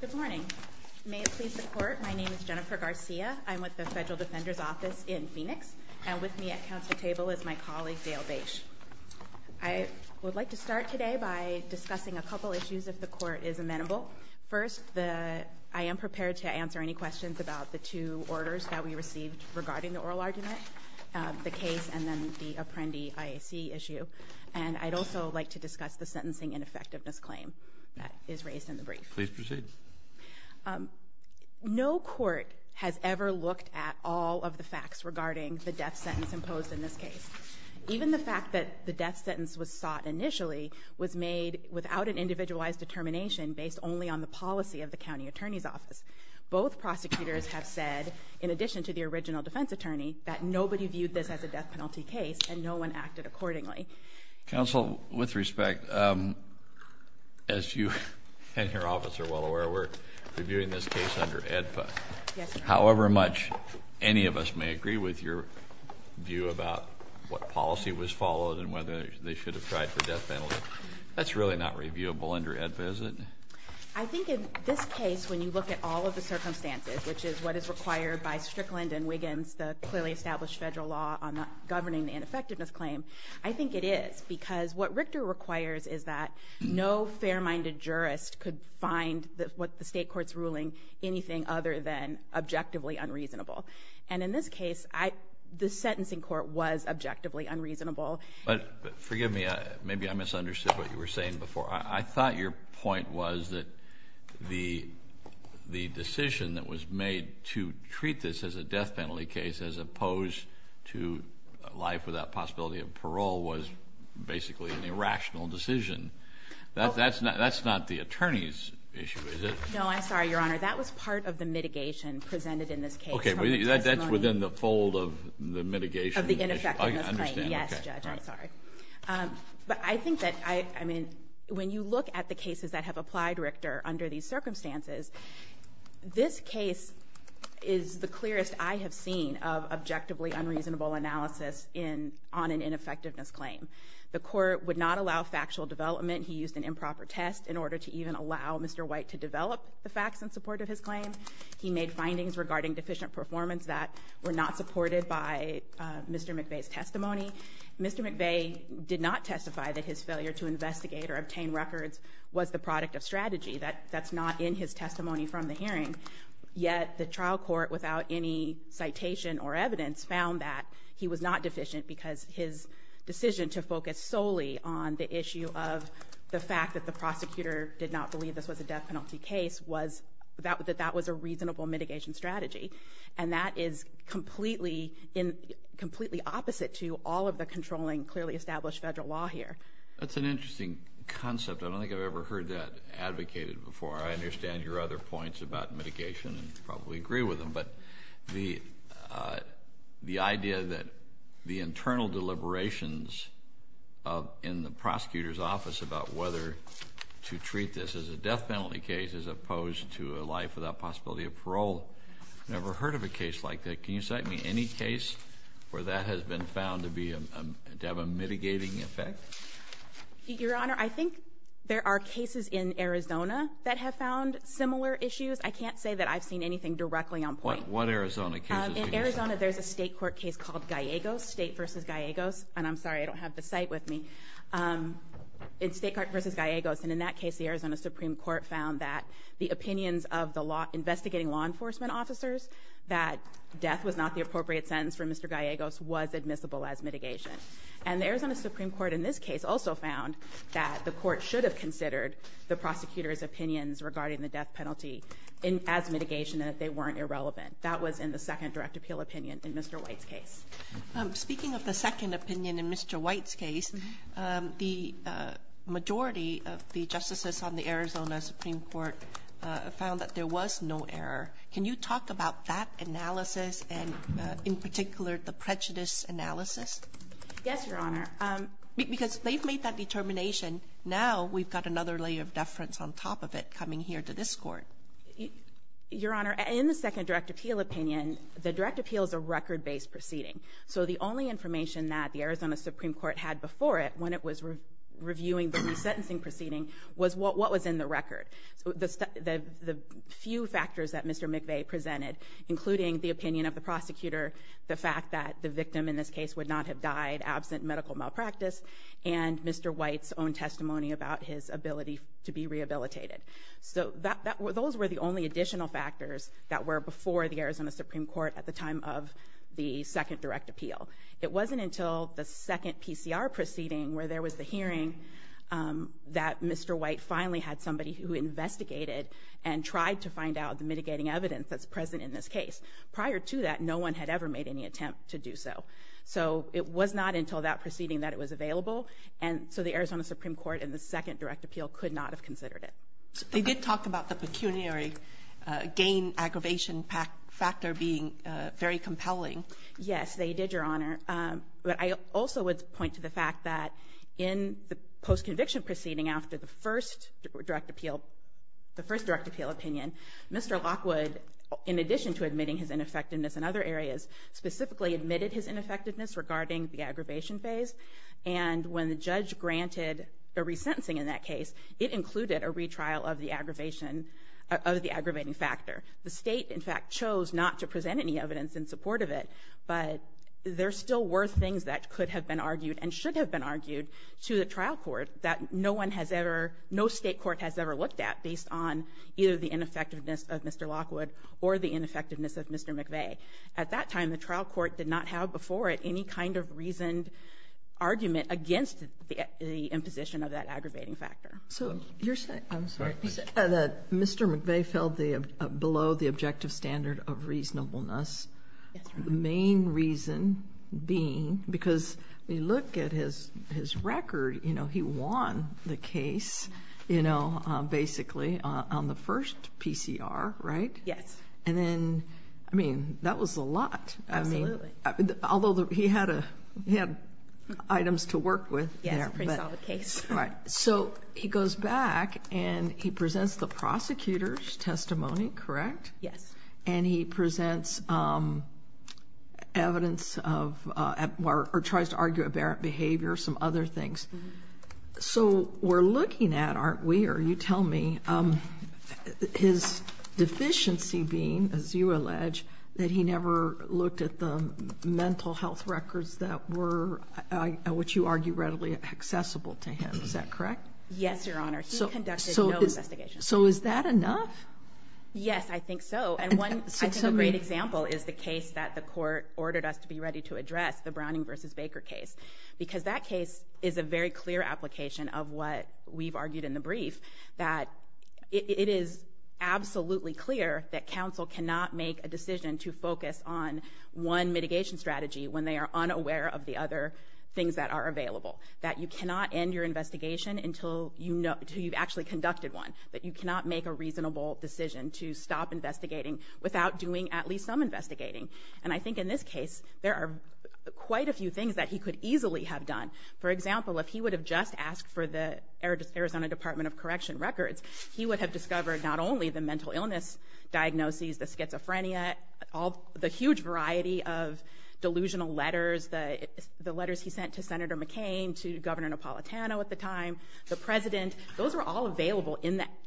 Good morning. May it please the court, my name is Jennifer Garcia. I'm with the Federal Defender's Office in Phoenix, and with me at council table is my colleague Dale Bache. I would like to start today by discussing a couple issues if the court is amenable. First, I am prepared to answer any questions about the two orders that we received regarding the oral argument, the case and then the Apprendi IAC issue, and I'd also like to discuss the sentencing ineffectiveness claim that is raised in the brief. Please proceed. No court has ever looked at all of the facts regarding the death sentence imposed in this case. Even the fact that the death sentence was sought initially was made without an individualized determination based only on the policy of the county attorney's office. Both prosecutors have said, in addition to the original defense attorney, that nobody viewed this as a death penalty case and no one acted accordingly. Counsel, with respect, as you and your office are well aware, we're reviewing this case under AEDPA. However much any of us may agree with your view about what policy was followed and whether they should have tried for death penalty, that's really not reviewable under AEDPA, is it? I think in this case, when you look at all of the circumstances, which is what is required by Strickland and Wiggins, the clearly established federal law on governing the ineffectiveness claim, I think it is because what Richter requires is that no fair-minded jurist could find what the state court's ruling anything other than objectively unreasonable. And in this case, the sentencing court was objectively unreasonable. But forgive me, maybe I misunderstood what you were saying before. I thought your point was that the decision that was made to treat this as a death penalty case as opposed to life without possibility of parole was basically an irrational decision. That's not the attorney's issue, is it? No, I'm sorry, Your Honor. That was part of the mitigation presented in this case. Okay. That's within the fold of the mitigation. Of the ineffectiveness claim. Yes, Judge, I'm sorry. But I think that, I mean, when you look at the cases that have applied Richter under these circumstances, this case is the clearest I have seen of objectively unreasonable analysis on an ineffectiveness claim. The court would not allow factual development. He used an improper test in order to even allow Mr. White to develop the facts in support of his claim. He made findings regarding deficient performance that were not supported by Mr. McVeigh's testimony. Mr. McVeigh did not testify that his failure to investigate or obtain records was the product of strategy. That's not in his testimony from the hearing. And yet the trial court, without any citation or evidence, found that he was not deficient because his decision to focus solely on the issue of the fact that the prosecutor did not believe this was a death penalty case was that that was a reasonable mitigation strategy. And that is completely opposite to all of the controlling clearly established federal law here. That's an interesting concept. I don't think I've ever heard that advocated before. I understand your other points about mitigation and probably agree with them. But the idea that the internal deliberations in the prosecutor's office about whether to treat this as a death penalty case as opposed to a life without possibility of parole, I've never heard of a case like that. Can you cite me any case where that has been found to have a mitigating effect? Your Honor, I think there are cases in Arizona that have found similar issues. I can't say that I've seen anything directly on point. What Arizona cases do you cite? In Arizona, there's a state court case called Gallegos, State v. Gallegos. And I'm sorry, I don't have the site with me. It's State Court v. Gallegos. And in that case, the Arizona Supreme Court found that the opinions of the investigating law enforcement officers that death was not the appropriate sentence for Mr. Gallegos was admissible as mitigation. And the Arizona Supreme Court in this case also found that the court should have considered the prosecutor's opinions regarding the death penalty as mitigation and that they weren't irrelevant. That was in the second direct appeal opinion in Mr. White's case. Speaking of the second opinion in Mr. White's case, the majority of the justices on the Arizona Supreme Court found that there was no error. Can you talk about that analysis and in particular the prejudice analysis? Yes, Your Honor. Because they've made that determination. Now we've got another layer of deference on top of it coming here to this court. Your Honor, in the second direct appeal opinion, the direct appeal is a record-based proceeding. So the only information that the Arizona Supreme Court had before it when it was reviewing the resentencing proceeding was what was in the record. So the few factors that Mr. McVeigh presented, including the opinion of the prosecutor, the fact that the victim in this case would not have died absent medical malpractice, and Mr. White's own testimony about his ability to be rehabilitated. So those were the only additional factors that were before the Arizona Supreme Court at the time of the second direct appeal. It wasn't until the second PCR proceeding where there was the hearing that Mr. White finally had somebody who investigated and tried to find out the mitigating evidence that's present in this case. Prior to that, no one had ever made any attempt to do so. So it was not until that proceeding that it was available, and so the Arizona Supreme Court in the second direct appeal could not have considered it. They did talk about the pecuniary gain aggravation factor being very compelling. Yes, they did, Your Honor, but I also would point to the fact that in the post-conviction proceeding after the first direct appeal opinion, Mr. Lockwood, in addition to admitting his ineffectiveness in other areas, specifically admitted his ineffectiveness regarding the aggravation phase, and when the judge granted the resentencing in that case, it included a retrial of the aggravating factor. The state, in fact, chose not to present any evidence in support of it, but there still were things that could have been argued and should have been argued to the trial court that no state court has ever looked at based on either the ineffectiveness of Mr. Lockwood or the ineffectiveness of Mr. McVeigh. At that time, the trial court did not have before it any kind of reasoned argument against the imposition of that aggravating factor. So you're saying that Mr. McVeigh fell below the objective standard of reasonableness, the main reason being because we look at his record, you know, he won the case, you know, basically, on the first PCR, right? Yes. And then, I mean, that was a lot. Absolutely. Although he had items to work with. Yes, a pretty solid case. Right. So he goes back and he presents the prosecutor's testimony, correct? Yes. And he presents evidence of, or tries to argue aberrant behavior, some other things. So we're looking at, aren't we, or you tell me, his deficiency being, as you allege, that he never looked at the mental health records that were, which you argue readily accessible to him. Is that correct? Yes, Your Honor. He conducted no investigations. So is that enough? Yes, I think so. And I think a great example is the case that the court ordered us to be ready to address, the Browning v. Baker case. Because that case is a very clear application of what we've argued in the brief, that it is absolutely clear that counsel cannot make a decision to focus on one mitigation strategy when they are unaware of the other things that are available. That you cannot end your investigation until you've actually conducted one. That you cannot make a reasonable decision to stop investigating without doing at least some investigating. And I think in this case, there are quite a few things that he could easily have done. For example, if he would have just asked for the Arizona Department of Correction records, he would have discovered not only the mental illness diagnoses, the schizophrenia, the huge variety of delusional letters, the letters he sent to Senator McCain, to Governor Napolitano at the time, the President. Those were all available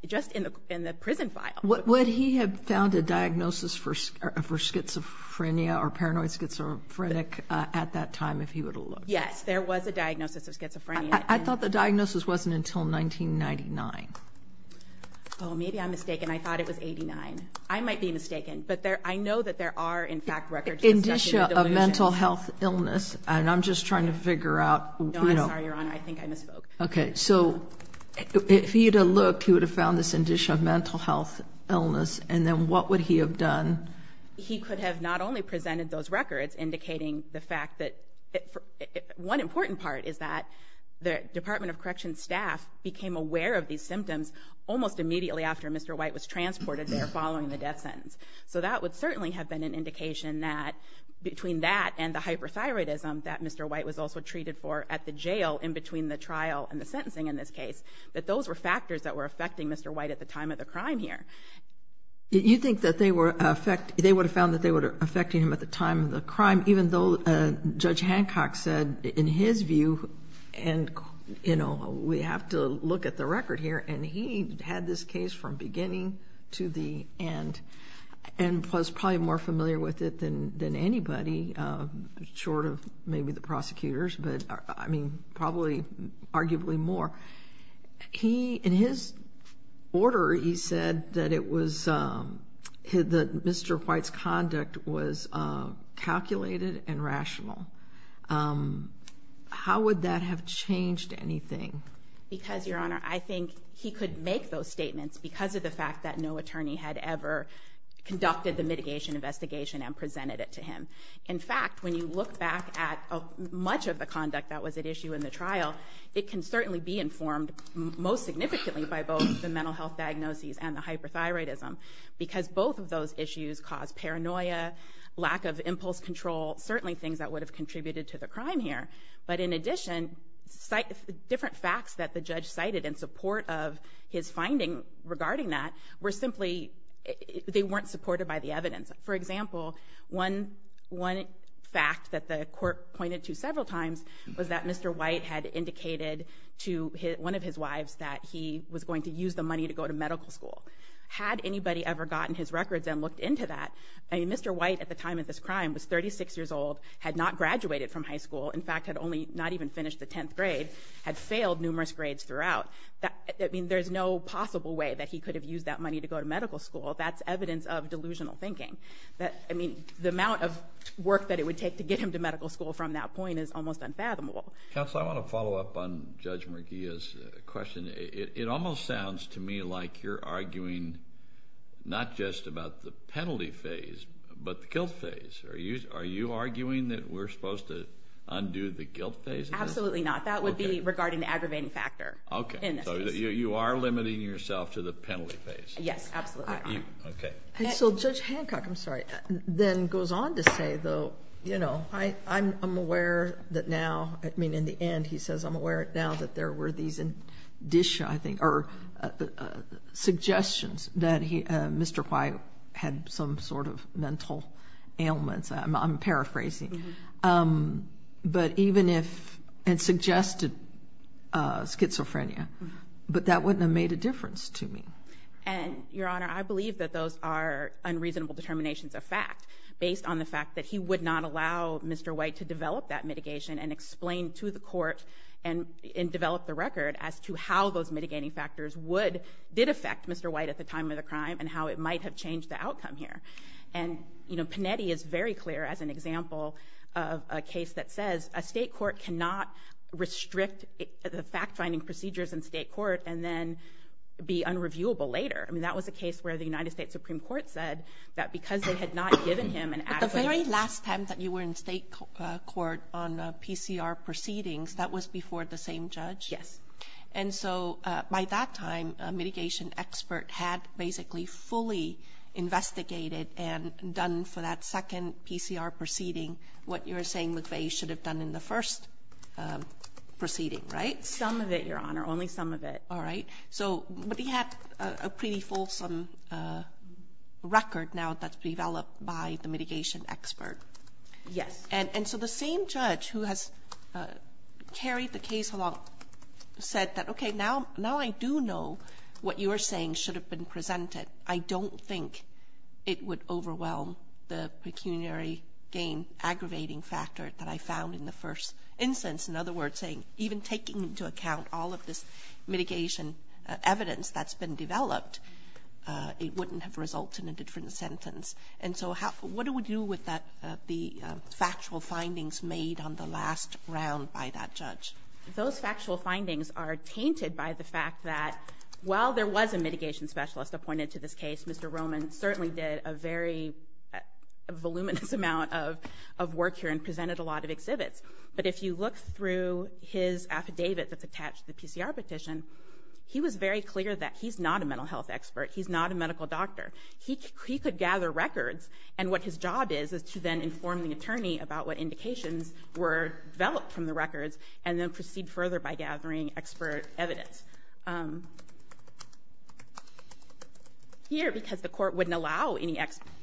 just in the prison file. Would he have found a diagnosis for schizophrenia or paranoid schizophrenic at that time if he would have looked? Yes, there was a diagnosis of schizophrenia. I thought the diagnosis wasn't until 1999. Oh, maybe I'm mistaken. I thought it was 1989. I might be mistaken. But I know that there are, in fact, records. Indicia of mental health illness. And I'm just trying to figure out. No, I'm sorry, Your Honor. I think I misspoke. Okay, so if he had looked, he would have found this Indicia of mental health illness. And then what would he have done? He could have not only presented those records indicating the fact that one important part is that the Department of Correction staff became aware of these symptoms almost immediately after Mr. White was transported there following the death sentence. So that would certainly have been an indication that between that and the hyperthyroidism that Mr. White was also treated for at the jail in between the trial and the sentencing in this case, that those were factors that were affecting Mr. White at the time of the crime here. You think that they would have found that they were affecting him at the time of the crime, even though Judge Hancock said in his view, and, you know, we have to look at the record here, and he had this case from beginning to the end and was probably more familiar with it than anybody, short of maybe the prosecutors, but, I mean, probably arguably more. In his order, he said that Mr. White's conduct was calculated and rational. How would that have changed anything? Because, Your Honor, I think he could make those statements because of the fact that no attorney had ever conducted the mitigation investigation and presented it to him. In fact, when you look back at much of the conduct that was at issue in the trial, it can certainly be informed most significantly by both the mental health diagnoses and the hyperthyroidism because both of those issues caused paranoia, lack of impulse control, certainly things that would have contributed to the crime here. But in addition, different facts that the judge cited in support of his finding regarding that were simply, they weren't supported by the evidence. For example, one fact that the court pointed to several times was that Mr. White had indicated to one of his wives that he was going to use the money to go to medical school. Had anybody ever gotten his records and looked into that, I mean, Mr. White at the time of this crime was 36 years old, had not graduated from high school, in fact, had only not even finished the 10th grade, had failed numerous grades throughout. I mean, there's no possible way that he could have used that money to go to medical school. That's evidence of delusional thinking. I mean, the amount of work that it would take to get him to medical school from that point is almost unfathomable. Counsel, I want to follow up on Judge Murguia's question. It almost sounds to me like you're arguing not just about the penalty phase but the guilt phase. Are you arguing that we're supposed to undo the guilt phase in this case? Absolutely not. That would be regarding the aggravating factor in this case. Okay, so you are limiting yourself to the penalty phase. Yes, absolutely. Okay. So Judge Hancock, I'm sorry, then goes on to say, though, you know, I'm aware that now, I mean, in the end, he says I'm aware now that there were these suggestions that Mr. White had some sort of mental ailments. I'm paraphrasing. But even if it suggested schizophrenia, but that wouldn't have made a difference to me. And, Your Honor, I believe that those are unreasonable determinations of fact, based on the fact that he would not allow Mr. White to develop that mitigation and explain to the court and develop the record as to how those mitigating factors did affect Mr. White at the time of the crime and how it might have changed the outcome here. And, you know, Panetti is very clear as an example of a case that says a state court cannot restrict the fact-finding procedures in state court and then be unreviewable later. I mean, that was a case where the United States Supreme Court said that because they had not given him an adequate But the very last time that you were in state court on PCR proceedings, that was before the same judge? Yes. And so by that time, a mitigation expert had basically fully investigated and done for that second PCR proceeding what you were saying McVeigh should have done in the first proceeding, right? Some of it, Your Honor, only some of it. All right. So he had a pretty fulsome record now that's developed by the mitigation expert. Yes. And so the same judge who has carried the case along said that, okay, now I do know what you are saying should have been presented. I don't think it would overwhelm the pecuniary gain aggravating factor that I found in the first instance. In other words, even taking into account all of this mitigation evidence that's been developed, it wouldn't have resulted in a different sentence. And so what do we do with the factual findings made on the last round by that judge? Those factual findings are tainted by the fact that while there was a mitigation specialist appointed to this case, Mr. Roman certainly did a very voluminous amount of work here and presented a lot of exhibits. But if you look through his affidavit that's attached to the PCR petition, he was very clear that he's not a mental health expert. He's not a medical doctor. He could gather records. And what his job is is to then inform the attorney about what indications were developed from the records and then proceed further by gathering expert evidence. Here, because the court wouldn't allow any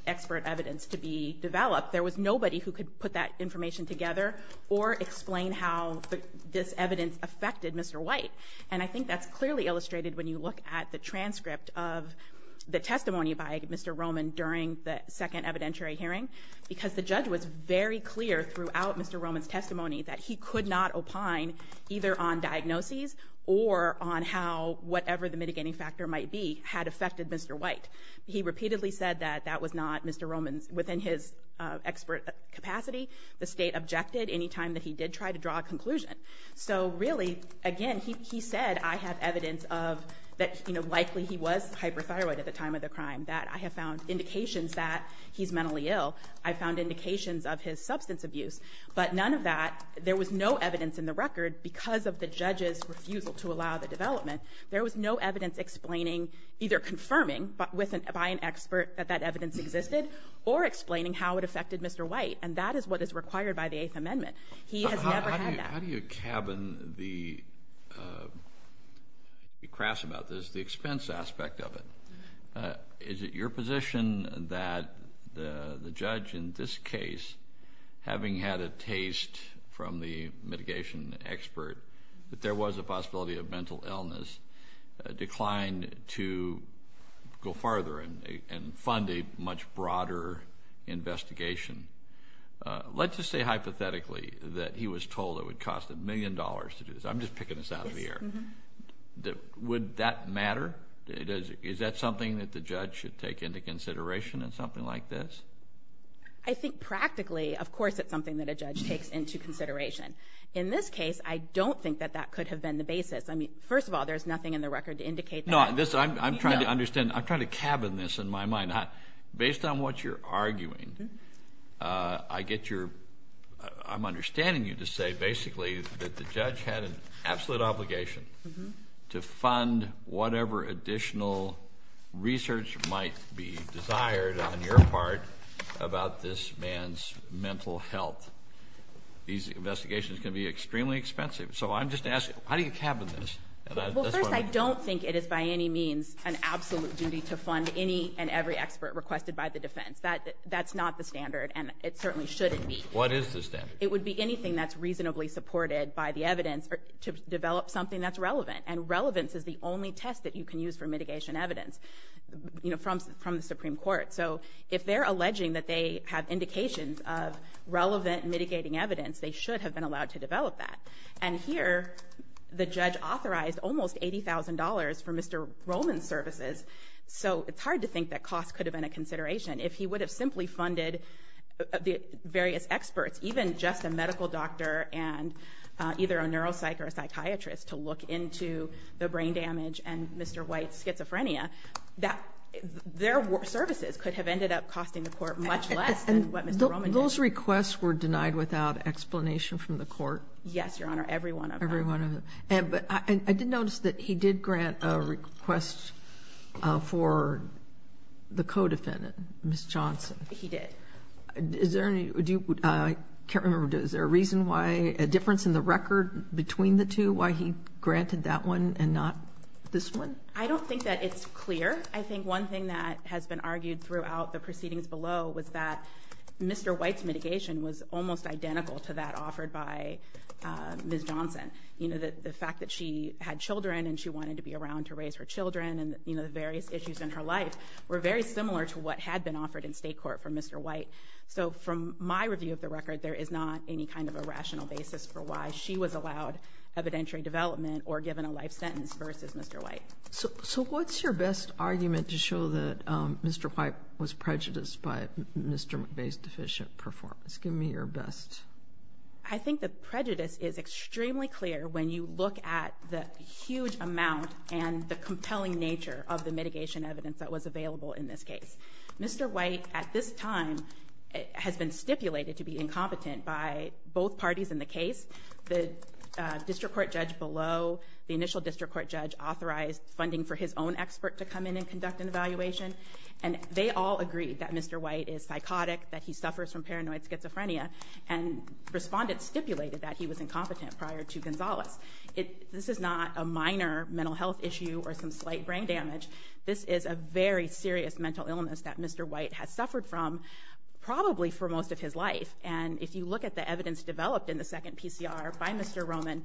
expert evidence to be developed, there was nobody who could put that information together or explain how this evidence affected Mr. White. And I think that's clearly illustrated when you look at the transcript of the testimony by Mr. Roman during the second evidentiary hearing because the judge was very clear throughout Mr. Roman's testimony that he could not opine either on diagnoses or on how whatever the mitigating factor might be had affected Mr. White. He repeatedly said that that was not Mr. Roman's, within his expert capacity. The state objected any time that he did try to draw a conclusion. So really, again, he said, I have evidence that likely he was hyperthyroid at the time of the crime, that I have found indications that he's mentally ill. I found indications of his substance abuse. But none of that, there was no evidence in the record because of the judge's refusal to allow the development. There was no evidence explaining, either confirming by an expert that that evidence existed or explaining how it affected Mr. White. And that is what is required by the Eighth Amendment. He has never had that. How do you cabin the, to be crass about this, the expense aspect of it? Is it your position that the judge in this case, having had a taste from the mitigation expert, that there was a possibility of mental illness, declined to go farther and fund a much broader investigation? Let's just say hypothetically that he was told it would cost a million dollars to do this. I'm just picking this out of the air. Would that matter? Is that something that the judge should take into consideration in something like this? I think practically, of course, it's something that a judge takes into consideration. In this case, I don't think that that could have been the basis. I mean, first of all, there's nothing in the record to indicate that. No, I'm trying to understand. I'm trying to cabin this in my mind. Based on what you're arguing, I'm understanding you to say basically that the judge had an absolute obligation to fund whatever additional research might be desired on your part about this man's mental health. These investigations can be extremely expensive. So I'm just asking, how do you cabin this? Well, first, I don't think it is by any means an absolute duty to fund any and every expert requested by the defense. That's not the standard, and it certainly shouldn't be. What is the standard? It would be anything that's reasonably supported by the evidence to develop something that's relevant. And relevance is the only test that you can use for mitigation evidence from the Supreme Court. So if they're alleging that they have indications of relevant mitigating evidence, they should have been allowed to develop that. And here, the judge authorized almost $80,000 for Mr. Rollman's services. So it's hard to think that cost could have been a consideration if he would have simply funded the various experts, even just a medical doctor and either a neuropsych or a psychiatrist to look into the brain damage and Mr. White's schizophrenia. Their services could have ended up costing the court much less than what Mr. Rollman did. And those requests were denied without explanation from the court? Yes, Your Honor, every one of them. Every one of them. And I did notice that he did grant a request for the co-defendant, Ms. Johnson. He did. Is there any – I can't remember. Is there a reason why – a difference in the record between the two why he granted that one and not this one? I don't think that it's clear. I think one thing that has been argued throughout the proceedings below was that Mr. White's mitigation was almost identical to that offered by Ms. Johnson. You know, the fact that she had children and she wanted to be around to raise her children and, you know, the various issues in her life were very similar to what had been offered in state court for Mr. White. So from my review of the record, there is not any kind of a rational basis for why she was allowed evidentiary development or given a life sentence versus Mr. White. So what's your best argument to show that Mr. White was prejudiced by Mr. McVeigh's deficient performance? Give me your best. I think the prejudice is extremely clear when you look at the huge amount and the compelling nature of the mitigation evidence that was available in this case. Mr. White, at this time, has been stipulated to be incompetent by both parties in the case. The district court judge below, the initial district court judge authorized funding for his own expert to come in and conduct an evaluation. And they all agreed that Mr. White is psychotic, that he suffers from paranoid schizophrenia, and respondents stipulated that he was incompetent prior to Gonzalez. This is not a minor mental health issue or some slight brain damage. This is a very serious mental illness that Mr. White has suffered from probably for most of his life. And if you look at the evidence developed in the second PCR by Mr. Roman,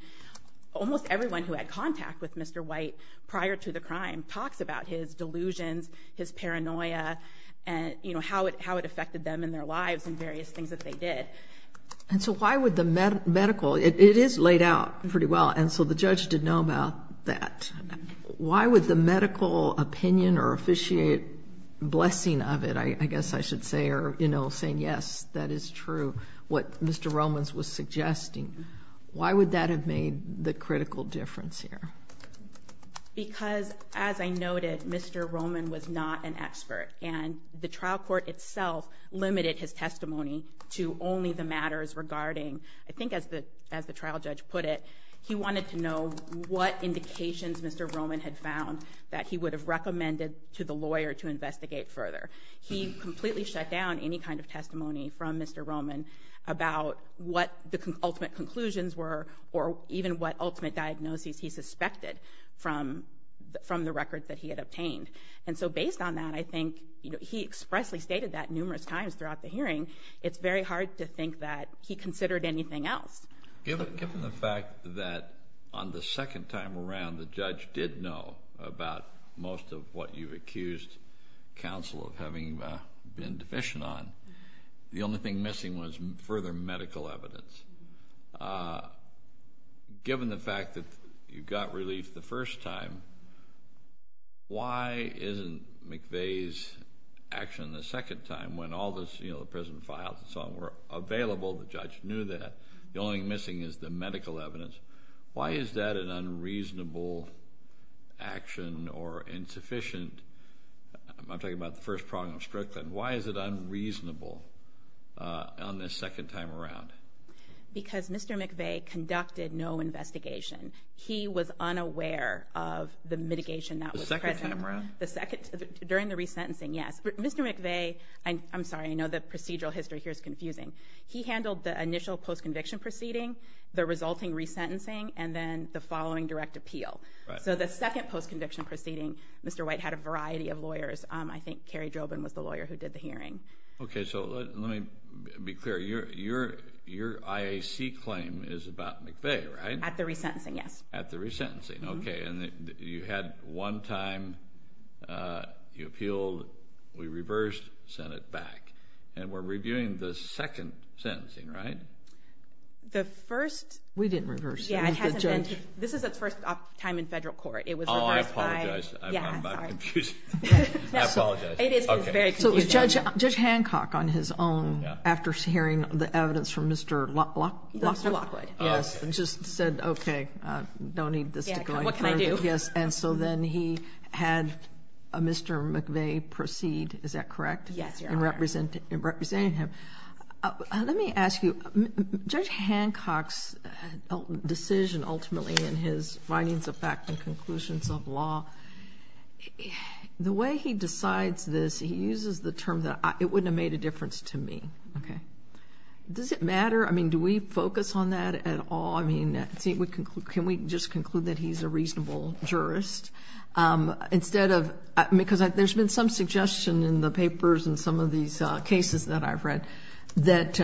almost everyone who had contact with Mr. White prior to the crime talks about his delusions, his paranoia, and how it affected them in their lives and various things that they did. And so why would the medical... It is laid out pretty well, and so the judge did know about that. Why would the medical opinion or officiate blessing of it, I guess I should say, or, you know, saying, yes, that is true, what Mr. Roman was suggesting, why would that have made the critical difference here? Because, as I noted, Mr. Roman was not an expert. And the trial court itself limited his testimony to only the matters regarding, I think as the trial judge put it, he wanted to know what indications Mr. Roman had found that he would have recommended to the lawyer to investigate further. He completely shut down any kind of testimony from Mr. Roman about what the ultimate conclusions were or even what ultimate diagnoses he suspected from the records that he had obtained. And so based on that, I think he expressly stated that numerous times throughout the hearing, it's very hard to think that he considered anything else. Given the fact that on the second time around the judge did know about most of what you've accused counsel of having been deficient on, the only thing missing was further medical evidence. Given the fact that you got relief the first time, why isn't McVeigh's action the second time, when all the prison files and so on were available, the judge knew that, the only thing missing is the medical evidence. Why is that an unreasonable action or insufficient? I'm talking about the first problem of stroke, then. Why is it unreasonable on the second time around? Because Mr. McVeigh conducted no investigation. He was unaware of the mitigation that was present. The second time around? During the resentencing, yes. Mr. McVeigh, I'm sorry, I know the procedural history here is confusing. He handled the initial post-conviction proceeding, the resulting resentencing, and then the following direct appeal. So the second post-conviction proceeding, Mr. White had a variety of lawyers. I think Kerry Drobin was the lawyer who did the hearing. Okay, so let me be clear. Your IAC claim is about McVeigh, right? At the resentencing, yes. At the resentencing. Okay, and you had one time you appealed, we reversed, sent it back. And we're reviewing the second sentencing, right? The first… We didn't reverse. This is its first time in federal court. It was reversed by… Oh, I apologize. I'm sorry. I apologize. It is very confusing. So Judge Hancock, on his own, after hearing the evidence from Mr. Lockwood, just said, okay, don't need this to go any further. What can I do? Yes, and so then he had Mr. McVeigh proceed, is that correct? Yes, Your Honor. In representing him. Let me ask you, Judge Hancock's decision ultimately in his findings of fact and conclusions of law, the way he decides this, he uses the term that it wouldn't have made a difference to me. Okay. Does it matter? I mean, do we focus on that at all? I mean, can we just conclude that he's a reasonable jurist? Instead of… Because there's been some suggestion in the papers and some of these cases that I've read that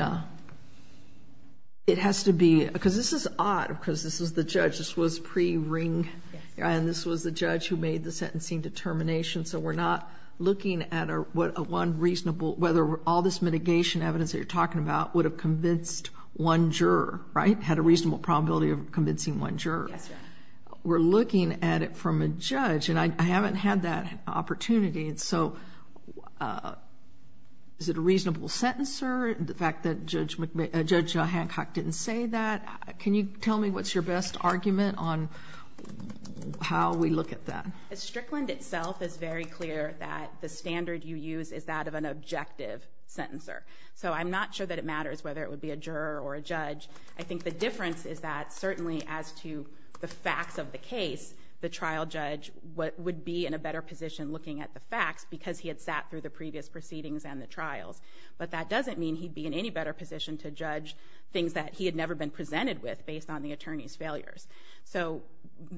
it has to be… Because this is odd, because this was the judge. This was pre-ring, and this was the judge who made the sentencing determination. So we're not looking at one reasonable… Whether all this mitigation evidence that you're talking about would have convinced one juror, right? Had a reasonable probability of convincing one juror. Yes, Your Honor. We're looking at it from a judge, and I haven't had that opportunity. So is it a reasonable sentencer, the fact that Judge Hancock didn't say that? Can you tell me what's your best argument on how we look at that? At Strickland itself, it's very clear that the standard you use is that of an objective sentencer. So I'm not sure that it matters whether it would be a juror or a judge. I think the difference is that certainly as to the facts of the case, the trial judge would be in a better position looking at the facts because he had sat through the previous proceedings and the trials. But that doesn't mean he'd be in any better position to judge things that he had never been presented with based on the attorney's failures. So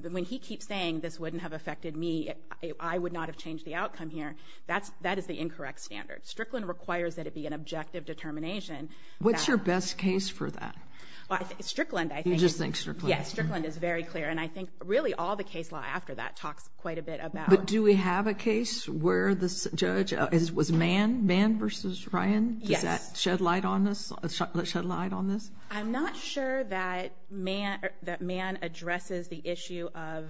when he keeps saying this wouldn't have affected me, I would not have changed the outcome here, that is the incorrect standard. Strickland requires that it be an objective determination. What's your best case for that? Strickland, I think. You just think Strickland. Yes, Strickland is very clear, and I think really all the case law after that talks quite a bit about. But do we have a case where this judge was Mann versus Ryan? Yes. Does that shed light on this? I'm not sure that Mann addresses the issue of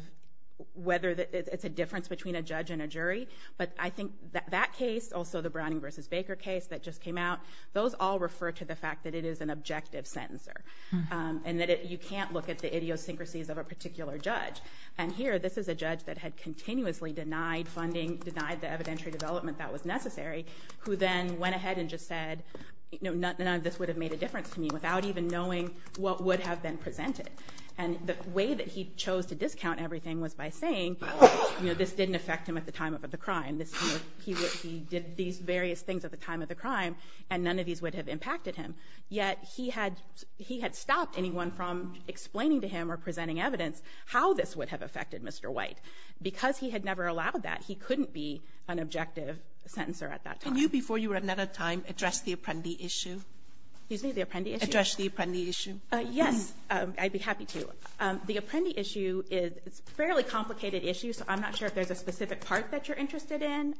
whether it's a difference between a judge and a jury, but I think that case, also the Browning versus Baker case that just came out, those all refer to the fact that it is an objective sentencer and that you can't look at the idiosyncrasies of a particular judge. And here, this is a judge that had continuously denied funding, denied the evidentiary development that was necessary, who then went ahead and just said, this would have made a difference to me without even knowing what would have been presented. And the way that he chose to discount everything was by saying, this didn't affect him at the time of the crime. He did these various things at the time of the crime, and none of these would have impacted him. Yet he had stopped anyone from explaining to him or presenting evidence how this would have affected Mr. White. Because he had never allowed that, he couldn't be an objective sentencer at that time. Can you, before you run out of time, address the Apprendi issue? Excuse me, the Apprendi issue? Address the Apprendi issue. Yes, I'd be happy to. The Apprendi issue is a fairly complicated issue, so I'm not sure if there's a specific part that you're interested in.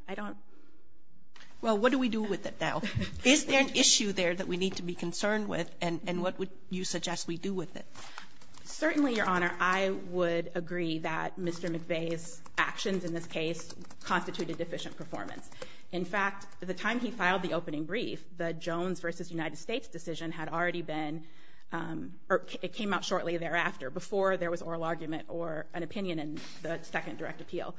Well, what do we do with it now? Is there an issue there that we need to be concerned with, and what would you suggest we do with it? Certainly, Your Honor, I would agree that Mr. McVeigh's actions in this case constituted deficient performance. In fact, the time he filed the opening brief, the Jones v. United States decision had already been, or it came out shortly thereafter, before there was oral argument or an opinion in the second direct appeal.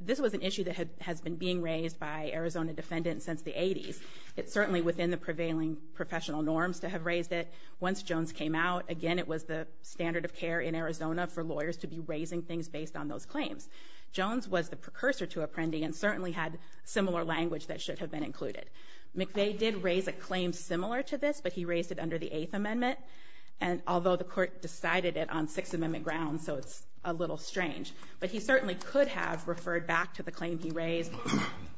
This was an issue that has been being raised by Arizona defendants since the 80s. It's certainly within the prevailing professional norms to have raised it. Once Jones came out, again, it was the standard of care in Arizona for lawyers to be raising things based on those claims. Jones was the precursor to Apprendi and certainly had similar language that should have been included. McVeigh did raise a claim similar to this, but he raised it under the Eighth Amendment, although the court decided it on Sixth Amendment grounds, so it's a little strange. But he certainly could have referred back to the claim he raised.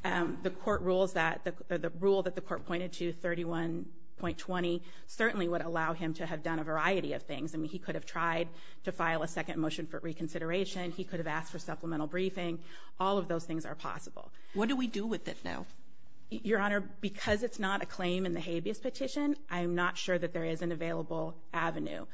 The rule that the court pointed to, 31.20, certainly would allow him to have done a variety of things. I mean, he could have tried to file a second motion for reconsideration. He could have asked for supplemental briefing. All of those things are possible. What do we do with it now? Your Honor, because it's not a claim in the habeas petition, I'm not sure that there is an available avenue,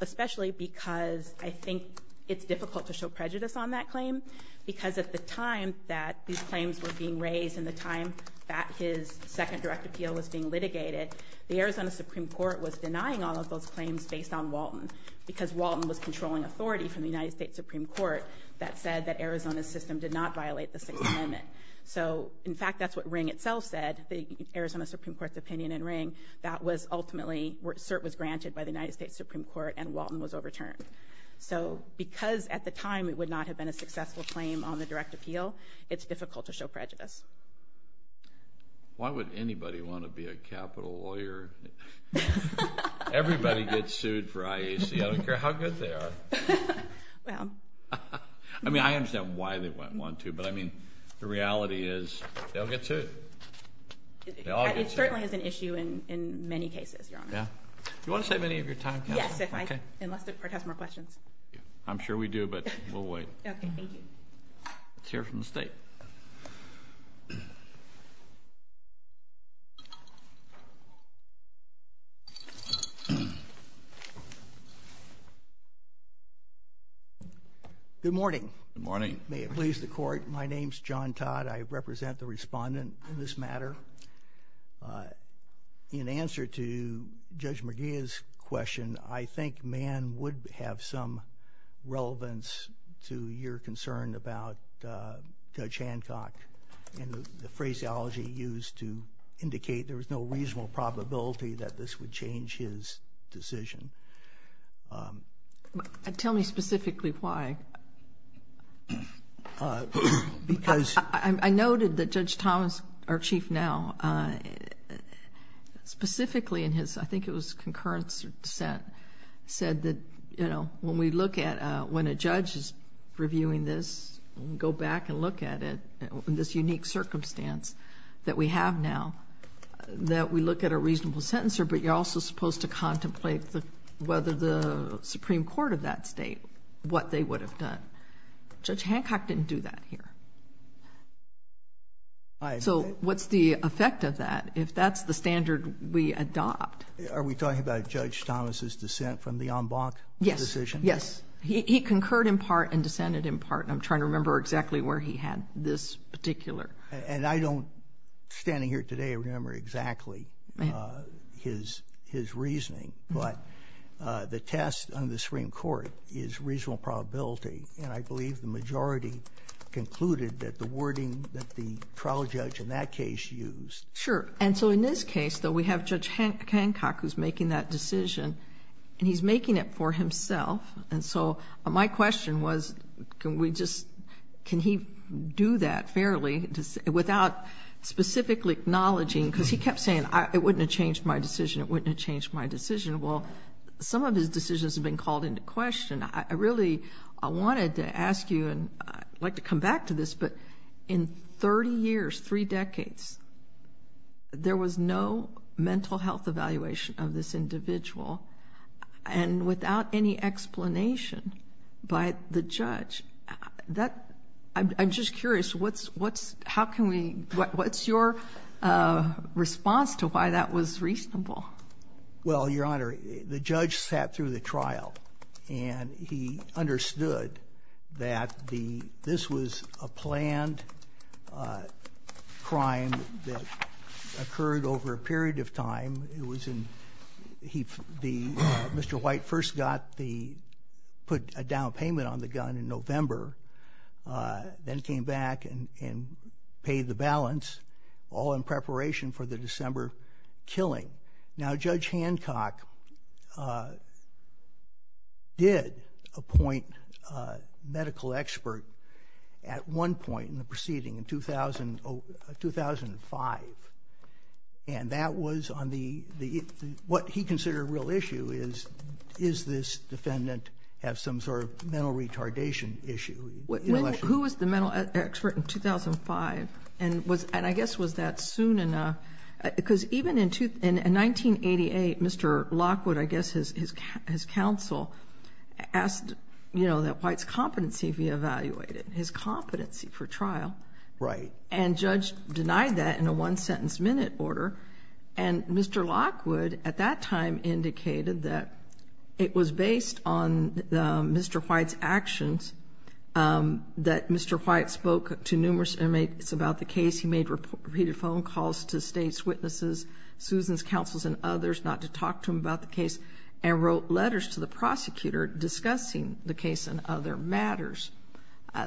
especially because I think it's difficult to show prejudice on that claim because at the time that these claims were being raised and the time that his second direct appeal was being litigated, the Arizona Supreme Court was denying all of those claims based on Walton because Walton was controlling authority from the United States Supreme Court that said that Arizona's system did not violate the Sixth Amendment. So, in fact, that's what Ring itself said, the Arizona Supreme Court's opinion in Ring, that was ultimately, cert was granted by the United States Supreme Court and Walton was overturned. So, because at the time it would not have been a successful claim on the direct appeal, it's difficult to show prejudice. Why would anybody want to be a capital lawyer? Everybody gets sued for IAC. I don't care how good they are. I mean, I understand why they might want to, but I mean, the reality is they'll get sued. It certainly is an issue in many cases, Your Honor. Do you want to save any of your time? Yes, unless the Court has more questions. I'm sure we do, but we'll wait. Okay, thank you. Let's hear from the State. Good morning. Good morning. May it please the Court, my name's John Todd. I represent the respondent in this matter. In answer to Judge McGeeh's question, I think Mann would have some relevance to your concern about Judge Hancock and the phraseology used to indicate there was no reasonable probability that this would change his decision. Tell me specifically why. I noted that Judge Thomas, our Chief now, specifically in his, I think it was concurrence or dissent, said that when a judge is reviewing this, go back and look at it in this unique circumstance that we have now, that we look at a reasonable sentencer, but you're also supposed to contemplate whether the Supreme Court of that Judge Hancock didn't do that here. So what's the effect of that if that's the standard we adopt? Are we talking about Judge Thomas' dissent from the en banc decision? Yes. He concurred in part and dissented in part, and I'm trying to remember exactly where he had this particular. And I don't, standing here today, remember exactly his reasoning, but the test on the Supreme Court is reasonable probability, and I believe the majority concluded that the wording that the trial judge in that case used. Sure. And so in this case, though, we have Judge Hancock who's making that decision, and he's making it for himself. And so my question was can we just, can he do that fairly without specifically acknowledging, because he kept saying it wouldn't have changed my decision, it wouldn't have changed my decision. Well, some of his decisions have been called into question. I really wanted to ask you, and I'd like to come back to this, but in 30 years, three decades, there was no mental health evaluation of this individual, and without any explanation by the judge. I'm just curious, what's your response to why that was reasonable? Well, Your Honor, the judge sat through the trial and he understood that this was a planned crime that occurred over a period of time. Mr. White first got the, put a down payment on the gun in November, then came back and paid the balance, all in preparation for the December killing. Now, Judge Hancock did appoint a medical expert at one point in the proceeding in 2005, and that was on the, what he considered a real issue is, does this defendant have some sort of mental retardation issue? Who was the mental expert in 2005? And I guess, was that soon enough? Because even in 1988, Mr. Lockwood, I guess his counsel, asked that White's competency be evaluated, his competency for trial. Right. And judge denied that in a one-sentence-minute order, and Mr. Lockwood, at that time, indicated that it was based on Mr. White's actions, that Mr. White spoke to numerous inmates about the case. He made repeated phone calls to state's witnesses, Susan's counsels and others, not to talk to them about the case, and wrote letters to the prosecutor discussing the case and other matters.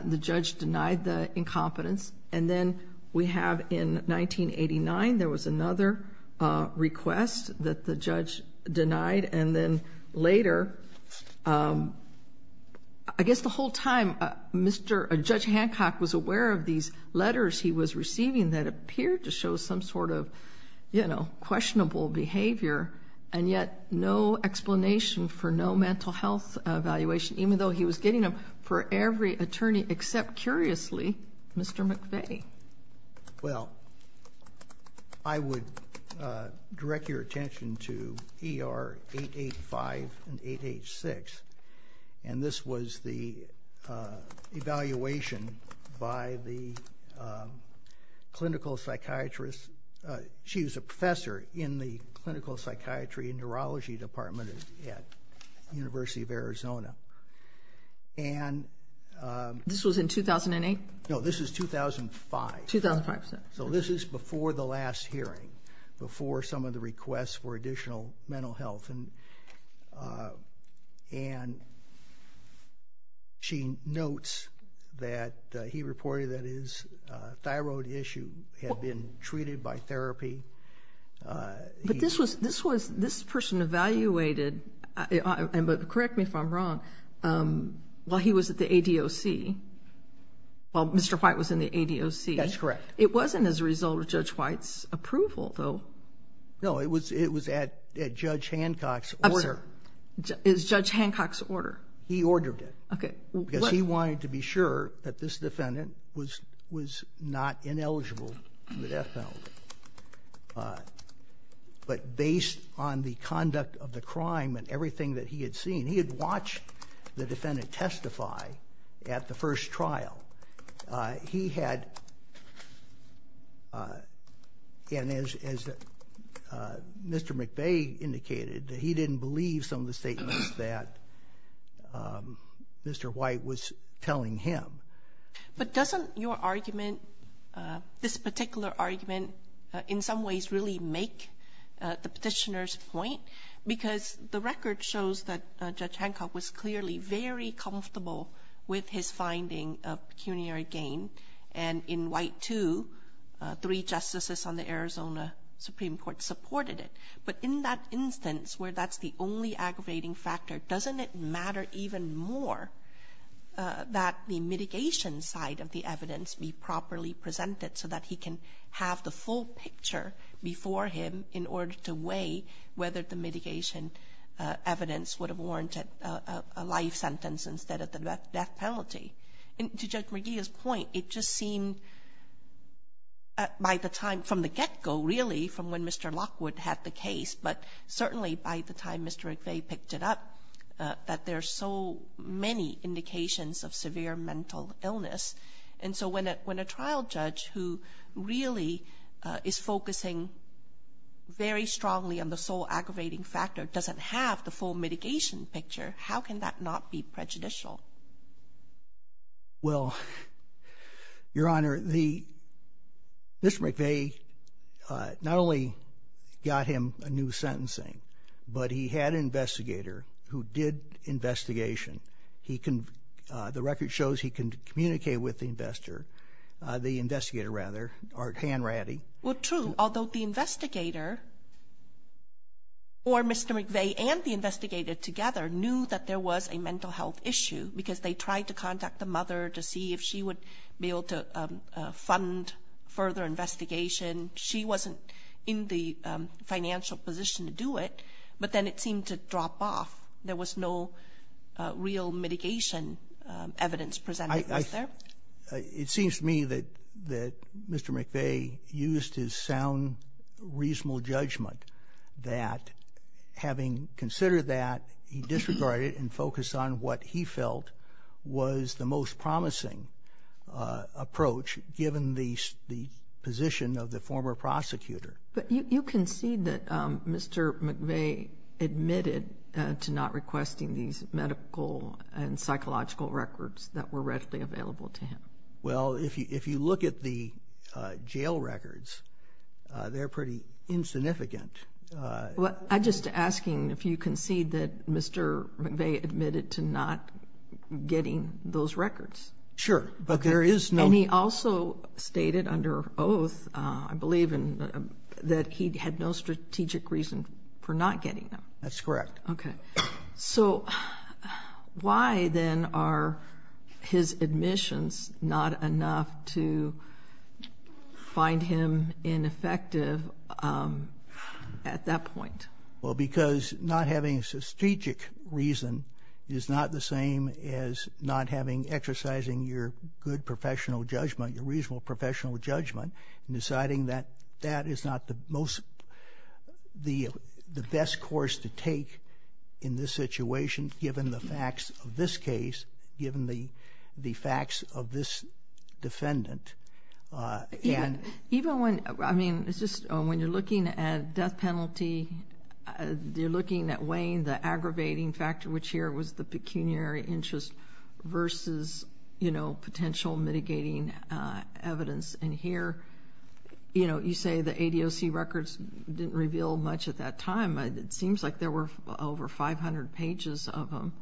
The judge denied the incompetence, and then we have, in 1989, there was another request that the judge denied, and then later, I guess the whole time, Judge Hancock was aware of these letters he was receiving that appeared to show some sort of, you know, questionable behavior, and yet no explanation for no mental health evaluation, even though he was getting them for every attorney except, curiously, Mr. McVeigh. Well, I would direct your attention to ER 885 and 886, and this was the evaluation by the clinical psychiatrist. She was a professor in the Clinical Psychiatry and Neurology Department at the University of Arizona. And this was in 2008? No, this is 2005. 2005. So this is before the last hearing, before some of the requests for additional mental health, and she notes that he reported that his thyroid issue had been treated by therapy. But this person evaluated, correct me if I'm wrong, while he was at the ADOC, while Mr. White was in the ADOC. That's correct. It wasn't as a result of Judge White's approval, though. No, it was at Judge Hancock's order. It was Judge Hancock's order. He ordered it. Okay. Because he wanted to be sure that this defendant was not ineligible for the death penalty. But based on the conduct of the crime and everything that he had seen, he had watched the defendant testify at the first trial. He had, as Mr. McVeigh indicated, he didn't believe some of the statements that Mr. White was telling him. But doesn't your argument, this particular argument, in some ways really make the petitioner's point? Because the record shows that Judge Hancock was clearly very comfortable with his finding of pecuniary gain, and in White 2, three justices on the Arizona Supreme Court supported it. But in that instance where that's the only aggravating factor, doesn't it matter even more that the mitigation side of the evidence be properly presented so that he can have the full picture before him in order to weigh whether the mitigation evidence would have warranted a life sentence instead of the death penalty? And to Judge McVeigh's point, it just seemed by the time, from the get-go really, from when Mr. Lockwood had the case, but certainly by the time Mr. McVeigh picked it up, that there's so many indications of severe mental illness. And so when a trial judge who really is focusing very strongly on the sole aggravating factor doesn't have the full mitigation picture, how can that not be prejudicial? Well, Your Honor, Mr. McVeigh not only got him a new sentencing, but he had an investigator who did investigation. The record shows he can communicate with the investigator, or Hanratty. Well, true, although the investigator or Mr. McVeigh and the investigator together knew that there was a mental health issue because they tried to contact the mother to see if she would be able to fund further investigation. She wasn't in the financial position to do it, but then it seemed to drop off. There was no real mitigation evidence presented. It seems to me that Mr. McVeigh used his sound, reasonable judgment that having considered that, he disregarded and focused on what he felt was the most promising approach given the position of the former prosecutor. But you concede that Mr. McVeigh admitted to not requesting these medical and psychological records that were readily available to him. Well, if you look at the jail records, they're pretty insignificant. I'm just asking if you concede that Mr. McVeigh admitted to not getting those records. Sure, but there is no... And he also stated under oath, I believe, that he had no strategic reason for not getting them. That's correct. Okay. So why, then, are his admissions not enough to find him ineffective at that point? Well, because not having a strategic reason is not the same as not exercising your good professional judgment, your reasonable professional judgment, and deciding that that is not the best course to take in this situation given the facts of this case, given the facts of this defendant. Even when you're looking at death penalty, you're looking at weighing the aggravating factor, which here was the pecuniary interest, versus potential mitigating evidence. And here, you know, you say the ADOC records didn't reveal much at that time. It seems like there were over 500 pages of them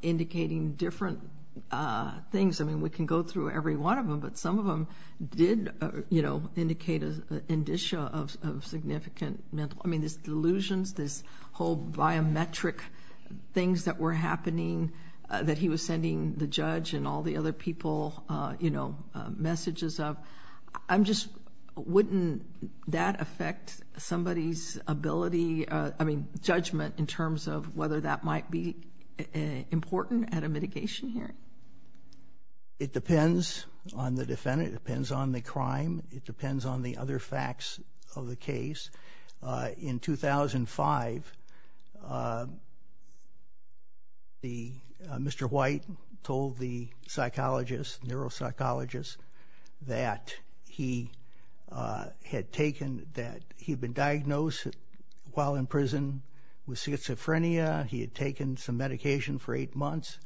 indicating different things. I mean, we can go through every one of them, but some of them did, you know, indicate an indicia of significant mental—I mean, these delusions, these whole biometric things that were happening that he was sending the judge and all the other people, you know, messages of. I'm just—wouldn't that affect somebody's ability, I mean, judgment, in terms of whether that might be important at a mitigation hearing? It depends on the defendant. It depends on the crime. It depends on the other facts of the case. In 2005, Mr. White told the psychologist, neuropsychologist, that he had taken—that he had been diagnosed while in prison with schizophrenia. He had taken some medication for eight months,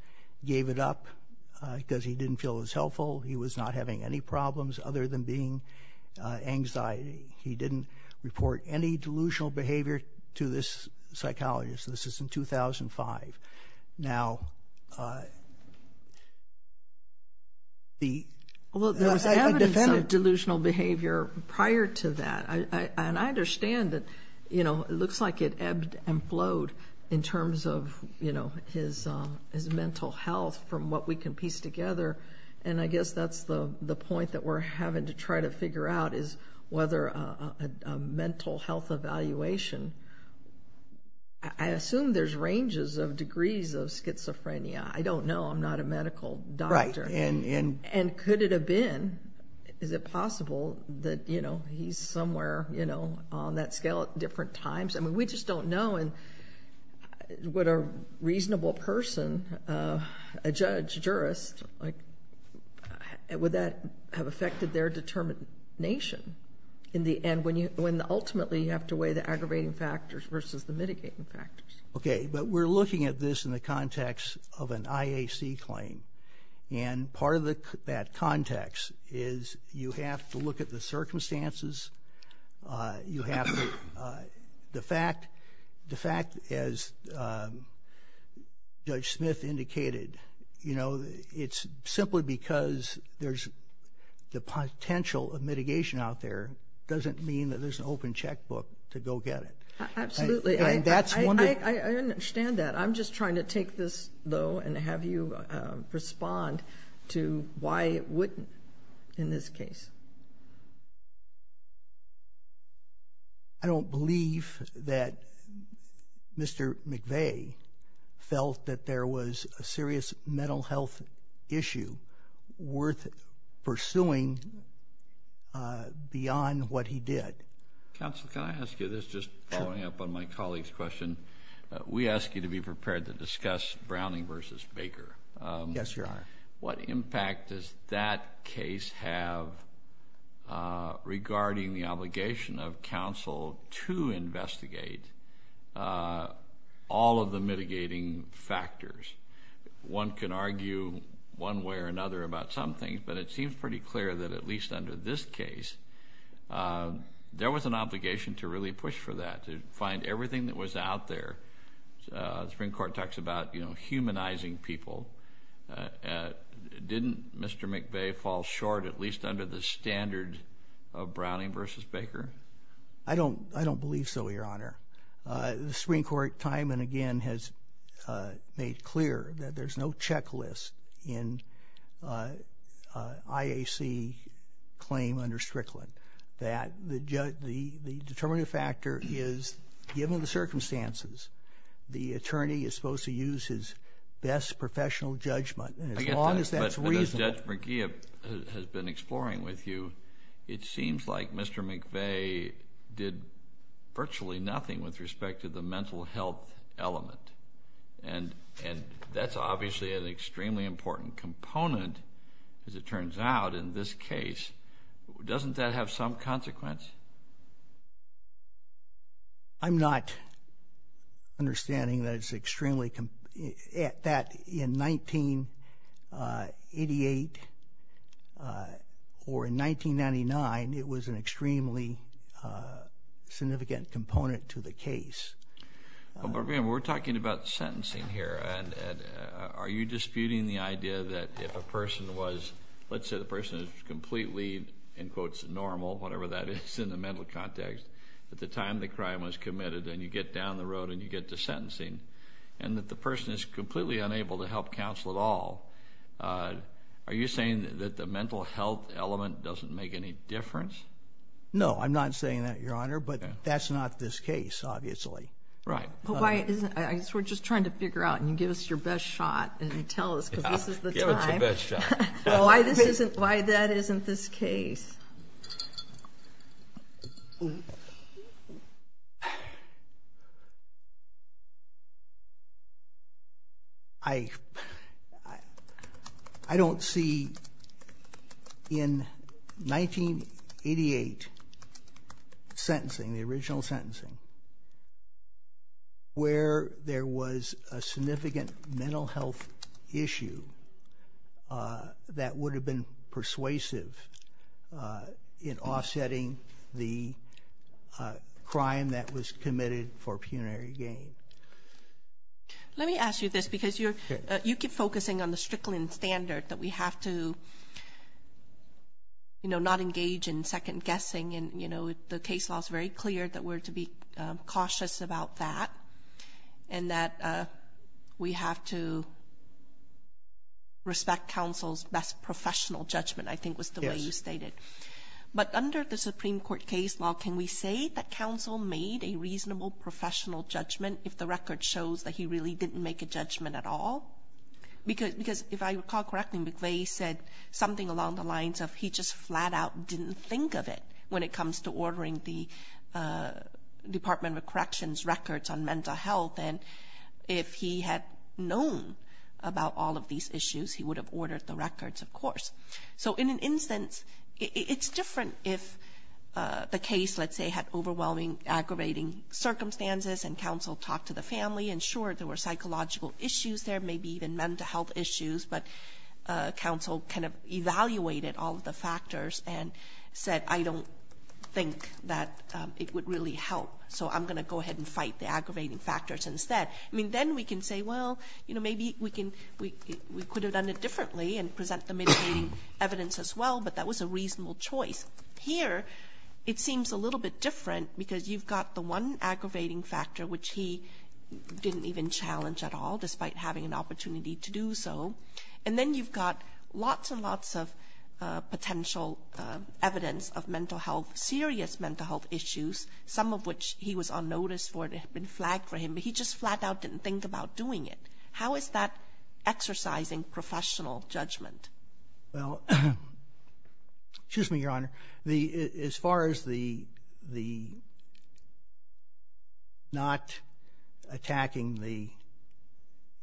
gave it up because he didn't feel it was helpful. He was not having any problems other than being anxiety. He didn't report any delusional behavior to this psychologist. This is in 2005. Now, the— Well, there was evidence of delusional behavior prior to that, and I understand that, you know, it looks like it ebbed and flowed in terms of, you know, his mental health from what we can piece together, and I guess that's the point that we're having to try to figure out, is whether a mental health evaluation—I assume there's ranges of degrees of schizophrenia. I don't know. I'm not a medical doctor. Right. And— And could it have been—is it possible that, you know, he's somewhere, you know, on that scale at different times? I mean, we just don't know. And would a reasonable person, a judge, jurist, would that have affected their determination in the end when ultimately you have to weigh the aggravating factors versus the mitigating factors? Okay, but we're looking at this in the context of an IAC claim, and part of that context is you have to look at the circumstances. You have to—the fact, as Judge Smith indicated, you know, it's simply because there's the potential of mitigation out there doesn't mean that there's an open checkbook to go get it. Absolutely. And that's one— I understand that. I'm just trying to take this, though, and have you respond to why it wouldn't in this case. I don't believe that Mr. McVeigh felt that there was a serious mental health issue worth pursuing beyond what he did. Counsel, can I ask you this, just following up on my colleague's question? We ask you to be prepared to discuss Browning versus Baker. Yes, Your Honor. What impact does that case have regarding the obligation of counsel to investigate all of the mitigating factors? One can argue one way or another about some things, but it seems pretty clear that at least under this case, there was an obligation to really push for that, to find everything that was out there. The Supreme Court talks about, you know, humanizing people. Didn't Mr. McVeigh fall short at least under the standard of Browning versus Baker? I don't believe so, Your Honor. The Supreme Court time and again has made clear that there's no checklist in IAC claim under Strickland, that the determinative factor is given the circumstances, the attorney is supposed to use his best professional judgment, and as long as that's reasonable. But as Judge McGee has been exploring with you, it seems like Mr. McVeigh did virtually nothing with respect to the mental health element, and that's obviously an extremely important component, as it turns out, in this case. Doesn't that have some consequence? I'm not understanding that it's extremely – that in 1988 or in 1999, it was an extremely significant component to the case. But, again, we're talking about sentencing here, and are you disputing the idea that if a person was – let's say, in quotes, normal, whatever that is in the mental context, at the time the crime was committed and you get down the road and you get to sentencing, and that the person is completely unable to help counsel at all, are you saying that the mental health element doesn't make any difference? No, I'm not saying that, Your Honor, but that's not this case, obviously. Right. I guess we're just trying to figure out, and you give us your best shot, and you tell us because this is the time. Give us the best shot. Why this isn't – why that isn't this case? I don't see in 1988 sentencing, the original sentencing, where there was a significant mental health issue that would have been persuasive in offsetting the crime that was committed for punitary gain. Let me ask you this because you keep focusing on the Strickland standard that we have to, you know, not engage in second-guessing, and, you know, the case law is very clear that we're to be cautious about that and that we have to respect counsel's best professional judgment, I think was the way you stated. Yes. But under the Supreme Court case law, can we say that counsel made a reasonable professional judgment if the record shows that he really didn't make a judgment at all? Because if I recall correctly, McVeigh said something along the lines of he just flat out didn't think of it when it comes to ordering the Department of Corrections records on mental health, and if he had known about all of these issues, he would have ordered the records, of course. So in an instance, it's different if the case, let's say, had overwhelming, aggravating circumstances and counsel talked to the family and, sure, there were psychological issues there, maybe even mental health issues, but counsel kind of evaluated all of the factors and said, I don't think that it would really help, so I'm going to go ahead and fight the aggravating factors instead. I mean, then we can say, well, you know, maybe we could have done it differently and present the mitigating evidence as well, but that was a reasonable choice. Here, it seems a little bit different because you've got the one aggravating factor, which he didn't even challenge at all despite having an opportunity to do so, and then you've got lots and lots of potential evidence of mental health, serious mental health issues, some of which he was on notice for and had been flagged for him, but he just flat out didn't think about doing it. How is that exercising professional judgment? Well, excuse me, Your Honor. As far as the not attacking the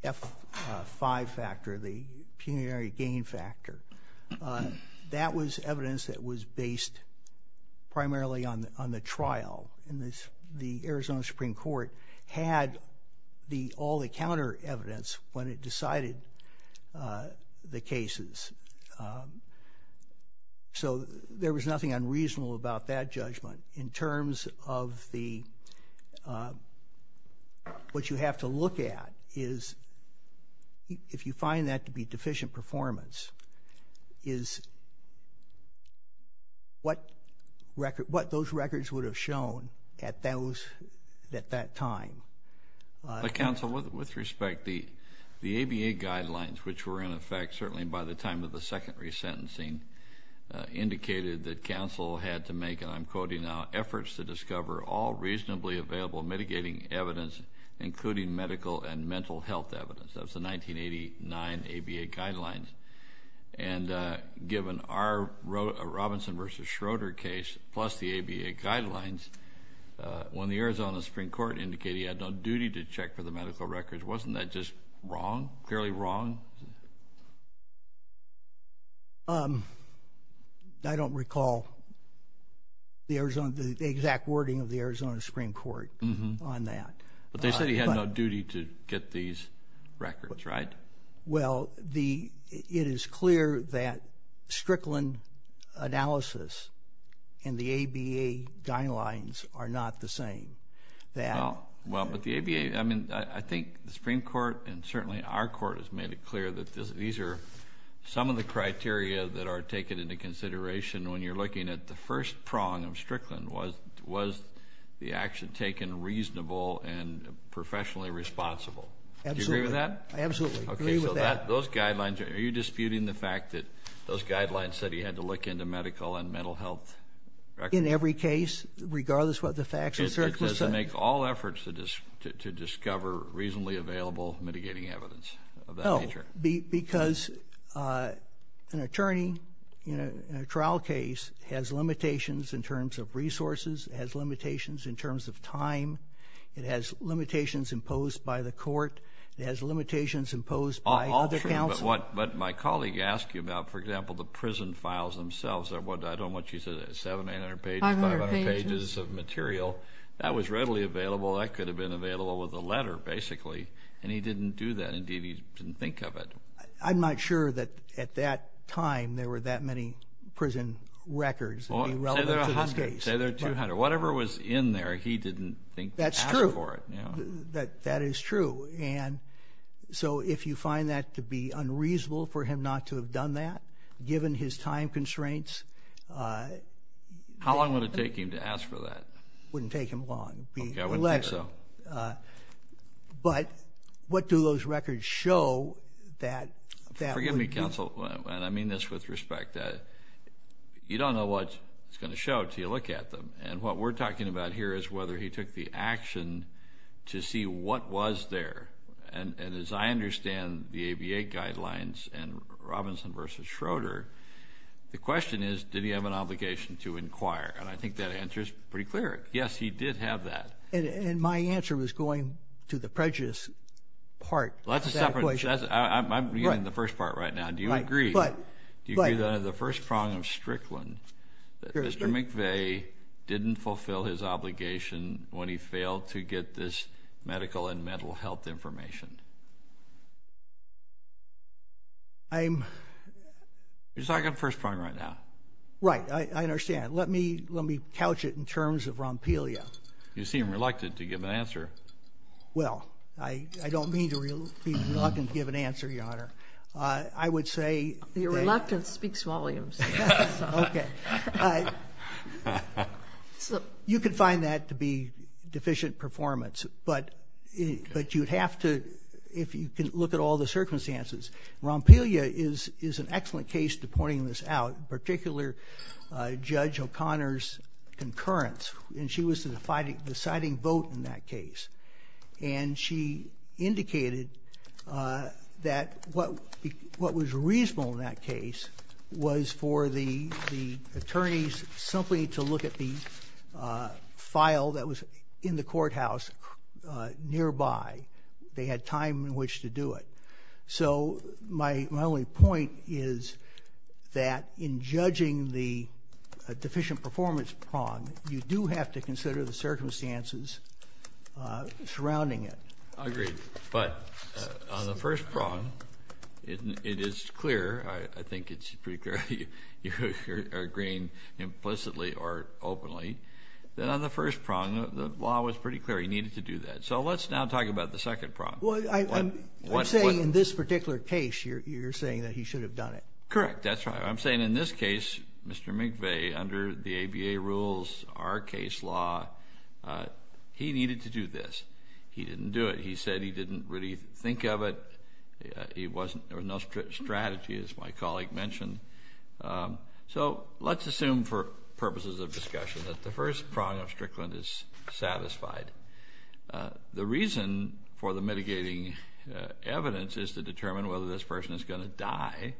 F5 factor, the punitive gain factor, that was evidence that was based primarily on the trial, and the Arizona Supreme Court had all the counter evidence when it decided the cases. So there was nothing unreasonable about that judgment in terms of what you have to look at is if you find that to be deficient performance, is what those records would have shown at that time. Counsel, with respect, the ABA guidelines, which were in effect certainly by the time of the second resentencing, indicated that counsel had to make, and I'm quoting now, efforts to discover all reasonably available mitigating evidence, including medical and mental health evidence. That was the 1989 ABA guidelines. And given our Robinson v. Schroeder case plus the ABA guidelines, when the Arizona Supreme Court indicated he had no duty to check for the medical records, wasn't that just wrong, fairly wrong? I don't recall the exact wording of the Arizona Supreme Court on that. But they said he had no duty to get these records, right? Well, it is clear that Strickland analysis and the ABA guidelines are not the same. Well, but the ABA, I mean, I think the Supreme Court and certainly our court has made it clear that these are some of the criteria that are taken into consideration when you're looking at the first prong of Strickland. Was the action taken reasonable and professionally responsible? Absolutely. Do you agree with that? I absolutely agree with that. Okay, so those guidelines, are you disputing the fact that those guidelines said he had to look into medical and mental health records? In every case, regardless of what the facts and certs were saying. It says to make all efforts to discover reasonably available mitigating evidence of that nature. Because an attorney in a trial case has limitations in terms of resources, has limitations in terms of time, it has limitations imposed by the court, it has limitations imposed by other counsel. But my colleague asked you about, for example, the prison files themselves. I don't know what you said, 700, 800 pages, 500 pages of material. That was readily available. That could have been available with a letter, basically, and he didn't do that. Indeed, he didn't think of it. I'm not sure that at that time there were that many prison records that would be relevant to this case. Say there are 200. Whatever was in there, he didn't think to ask for it. That's true. That is true. And so if you find that to be unreasonable for him not to have done that, given his time constraints. How long would it take him to ask for that? It wouldn't take him long. Okay, I wouldn't think so. But what do those records show that that would be? Forgive me, counsel, and I mean this with respect. You don't know what it's going to show until you look at them. And what we're talking about here is whether he took the action to see what was there. And as I understand the ABA guidelines and Robinson v. Schroeder, the question is did he have an obligation to inquire. And I think that answer is pretty clear. Yes, he did have that. And my answer was going to the prejudice part. Well, that's a separate. I'm getting to the first part right now. Do you agree that under the first prong of Strickland that Mr. McVeigh didn't fulfill his obligation when he failed to get this medical and mental health information? I'm. You're talking first prong right now. Right. I understand. Let me couch it in terms of Rompelia. You seem reluctant to give an answer. Well, I don't mean to be reluctant to give an answer, Your Honor. I would say. Your reluctance speaks volumes. Okay. You could find that to be deficient performance. But you'd have to, if you can look at all the circumstances, Rompelia is an excellent case to pointing this out, particularly Judge O'Connor's concurrence. And she was the deciding vote in that case. And she indicated that what was reasonable in that case was for the attorneys simply to look at the file that was in the courthouse nearby. They had time in which to do it. So my only point is that in judging the deficient performance prong, you do have to consider the circumstances surrounding it. Agreed. But on the first prong, it is clear. I think it's pretty clear you're agreeing implicitly or openly. Then on the first prong, the law was pretty clear you needed to do that. So let's now talk about the second prong. I'm saying in this particular case you're saying that he should have done it. Correct. That's right. I'm saying in this case, Mr. McVeigh, under the ABA rules, our case law, he needed to do this. He didn't do it. He said he didn't really think of it. There was no strategy, as my colleague mentioned. So let's assume for purposes of discussion that the first prong of Strickland is satisfied. The reason for the mitigating evidence is to determine whether this person is going to die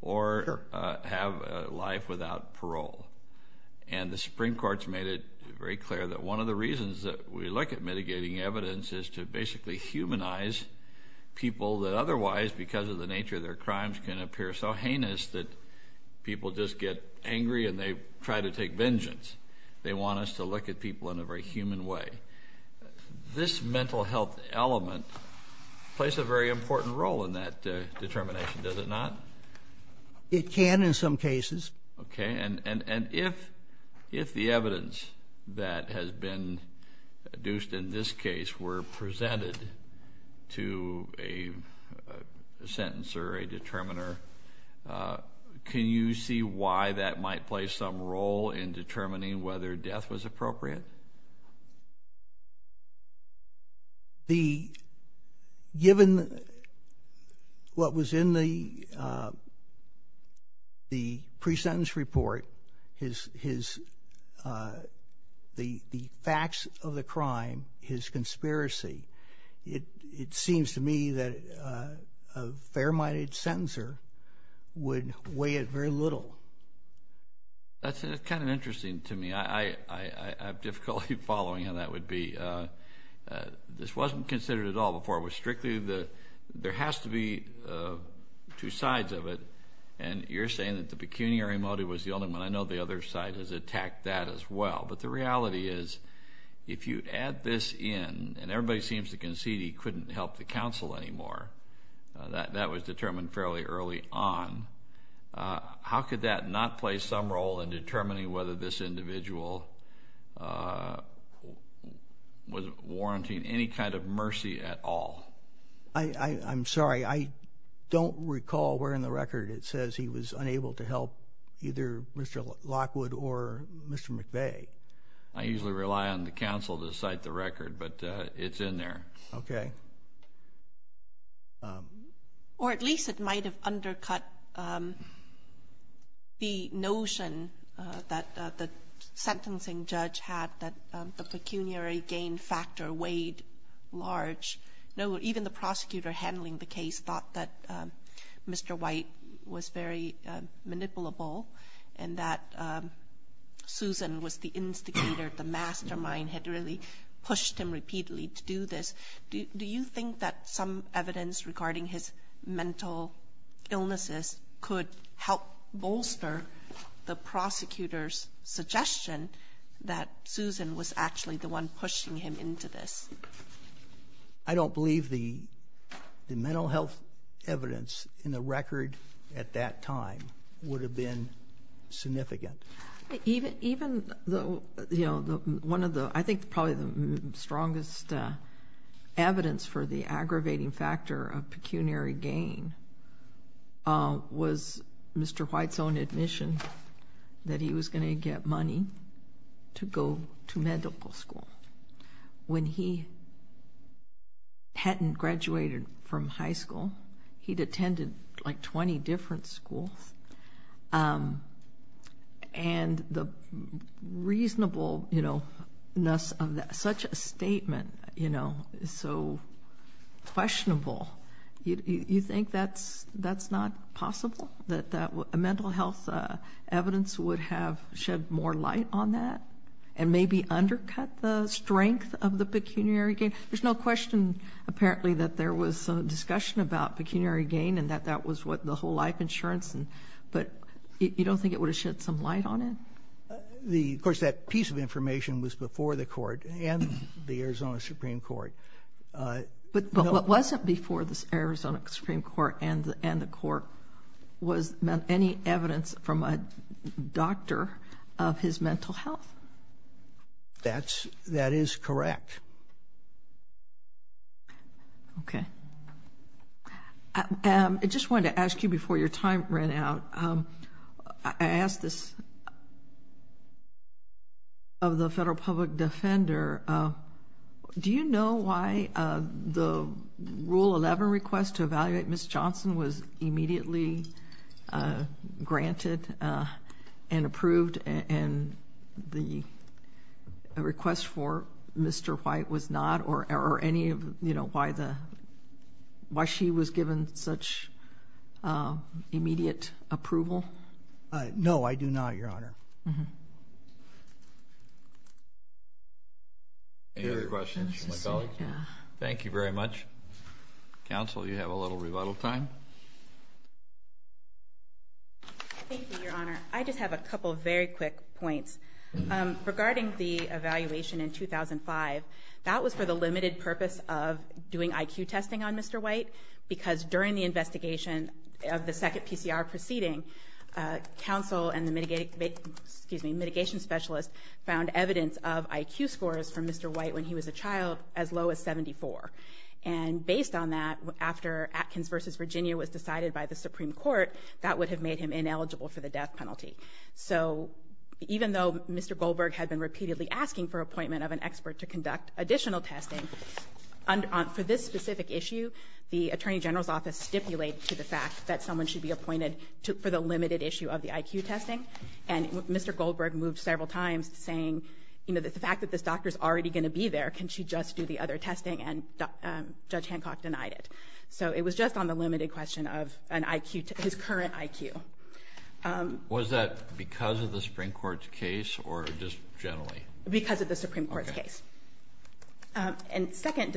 or have a life without parole. And the Supreme Court has made it very clear that one of the reasons that we look at mitigating evidence is to basically humanize people that otherwise, because of the nature of their crimes, can appear so heinous that people just get angry and they try to take vengeance. They want us to look at people in a very human way. This mental health element plays a very important role in that determination, does it not? It can in some cases. Okay. And if the evidence that has been deduced in this case were presented to a pre-sentence or a determiner, can you see why that might play some role in determining whether death was appropriate? Given what was in the pre-sentence report, the facts of the crime, his conspiracy, it seems to me that a fair-minded sentencer would weigh it very little. That's kind of interesting to me. I have difficulty following how that would be. This wasn't considered at all before. There has to be two sides of it, and you're saying that the pecuniary motive was the only one. I know the other side has attacked that as well. But the reality is if you add this in, and everybody seems to concede he couldn't help the counsel anymore, that was determined fairly early on, how could that not play some role in determining whether this individual was warranting any kind of mercy at all? I'm sorry. I don't recall where in the record it says he was unable to help either Mr. Lockwood or Mr. McVeigh. I usually rely on the counsel to cite the record, but it's in there. Okay. Or at least it might have undercut the notion that the sentencing judge had that the pecuniary gain factor weighed large. Even the prosecutor handling the case thought that Mr. White was very manipulable and that Susan was the instigator, the mastermind, had really pushed him repeatedly to do this. Do you think that some evidence regarding his mental illnesses could help bolster the prosecutor's suggestion that Susan was actually the one pushing him to this? I don't believe the mental health evidence in the record at that time would have been significant. I think probably the strongest evidence for the aggravating factor of pecuniary gain was Mr. White's own admission that he was going to get money to go to medical school. When he hadn't graduated from high school, he'd attended like 20 different schools. And the reasonableness of such a statement is so questionable. You think that's not possible, that a mental health evidence would have shed more light on that and maybe undercut the strength of the pecuniary gain? There's no question, apparently, that there was discussion about pecuniary gain and that that was what the whole life insurance, but you don't think it would have shed some light on it? Of course, that piece of information was before the court and the Arizona Supreme Court. But what wasn't before the Arizona Supreme Court and the court was any evidence from a doctor of his mental health? That is correct. Okay. I just wanted to ask you before your time ran out, I asked this of the federal public defender, do you know why the Rule 11 request to evaluate Ms. White was not immediately granted and approved and the request for Mr. White was not, or any of, you know, why she was given such immediate approval? No, I do not, Your Honor. Any other questions from my colleagues? Thank you very much. Counsel, you have a little rebuttal time. Thank you, Your Honor. I just have a couple of very quick points. Regarding the evaluation in 2005, that was for the limited purpose of doing IQ testing on Mr. White because during the investigation of the second PCR proceeding, counsel and the mitigation specialist found evidence of IQ scores from Mr. White when he was a child as low as 74. And based on that, after Atkins versus Virginia was decided by the Supreme Court, that would have made him ineligible for the death penalty. So even though Mr. Goldberg had been repeatedly asking for appointment of an expert to conduct additional testing for this specific issue, the Attorney General's Office stipulated to the fact that someone should be appointed for the limited issue of the IQ testing. And Mr. Goldberg moved several times saying that the fact that this doctor is already going to be there, can she just do the other testing? And Judge Hancock denied it. So it was just on the limited question of his current IQ. Was that because of the Supreme Court's case or just generally? Because of the Supreme Court's case. And second,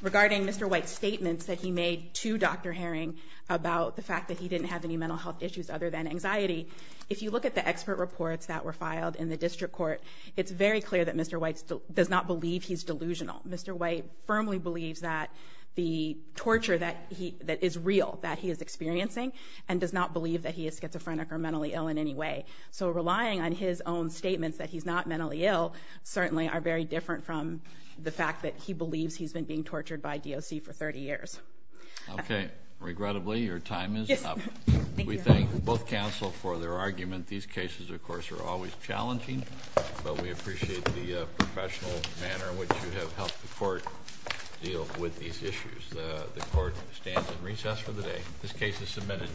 regarding Mr. White's statements that he made to Dr. Herring about the fact that he didn't have any mental health issues other than anxiety, if you look at the expert reports that were filed in the district court, it's very clear that Mr. White does not believe he's delusional. Mr. White firmly believes that the torture that is real, that he is experiencing, and does not believe that he is schizophrenic or mentally ill in any way. So relying on his own statements that he's not mentally ill certainly are very different from the fact that he believes he's been being tortured by DOC for 30 years. Okay. Regrettably, your time is up. We thank both counsel for their argument. These cases, of course, are always challenging. But we appreciate the professional manner in which you have helped the court deal with these issues. The court stands in recess for the day. This case is submitted.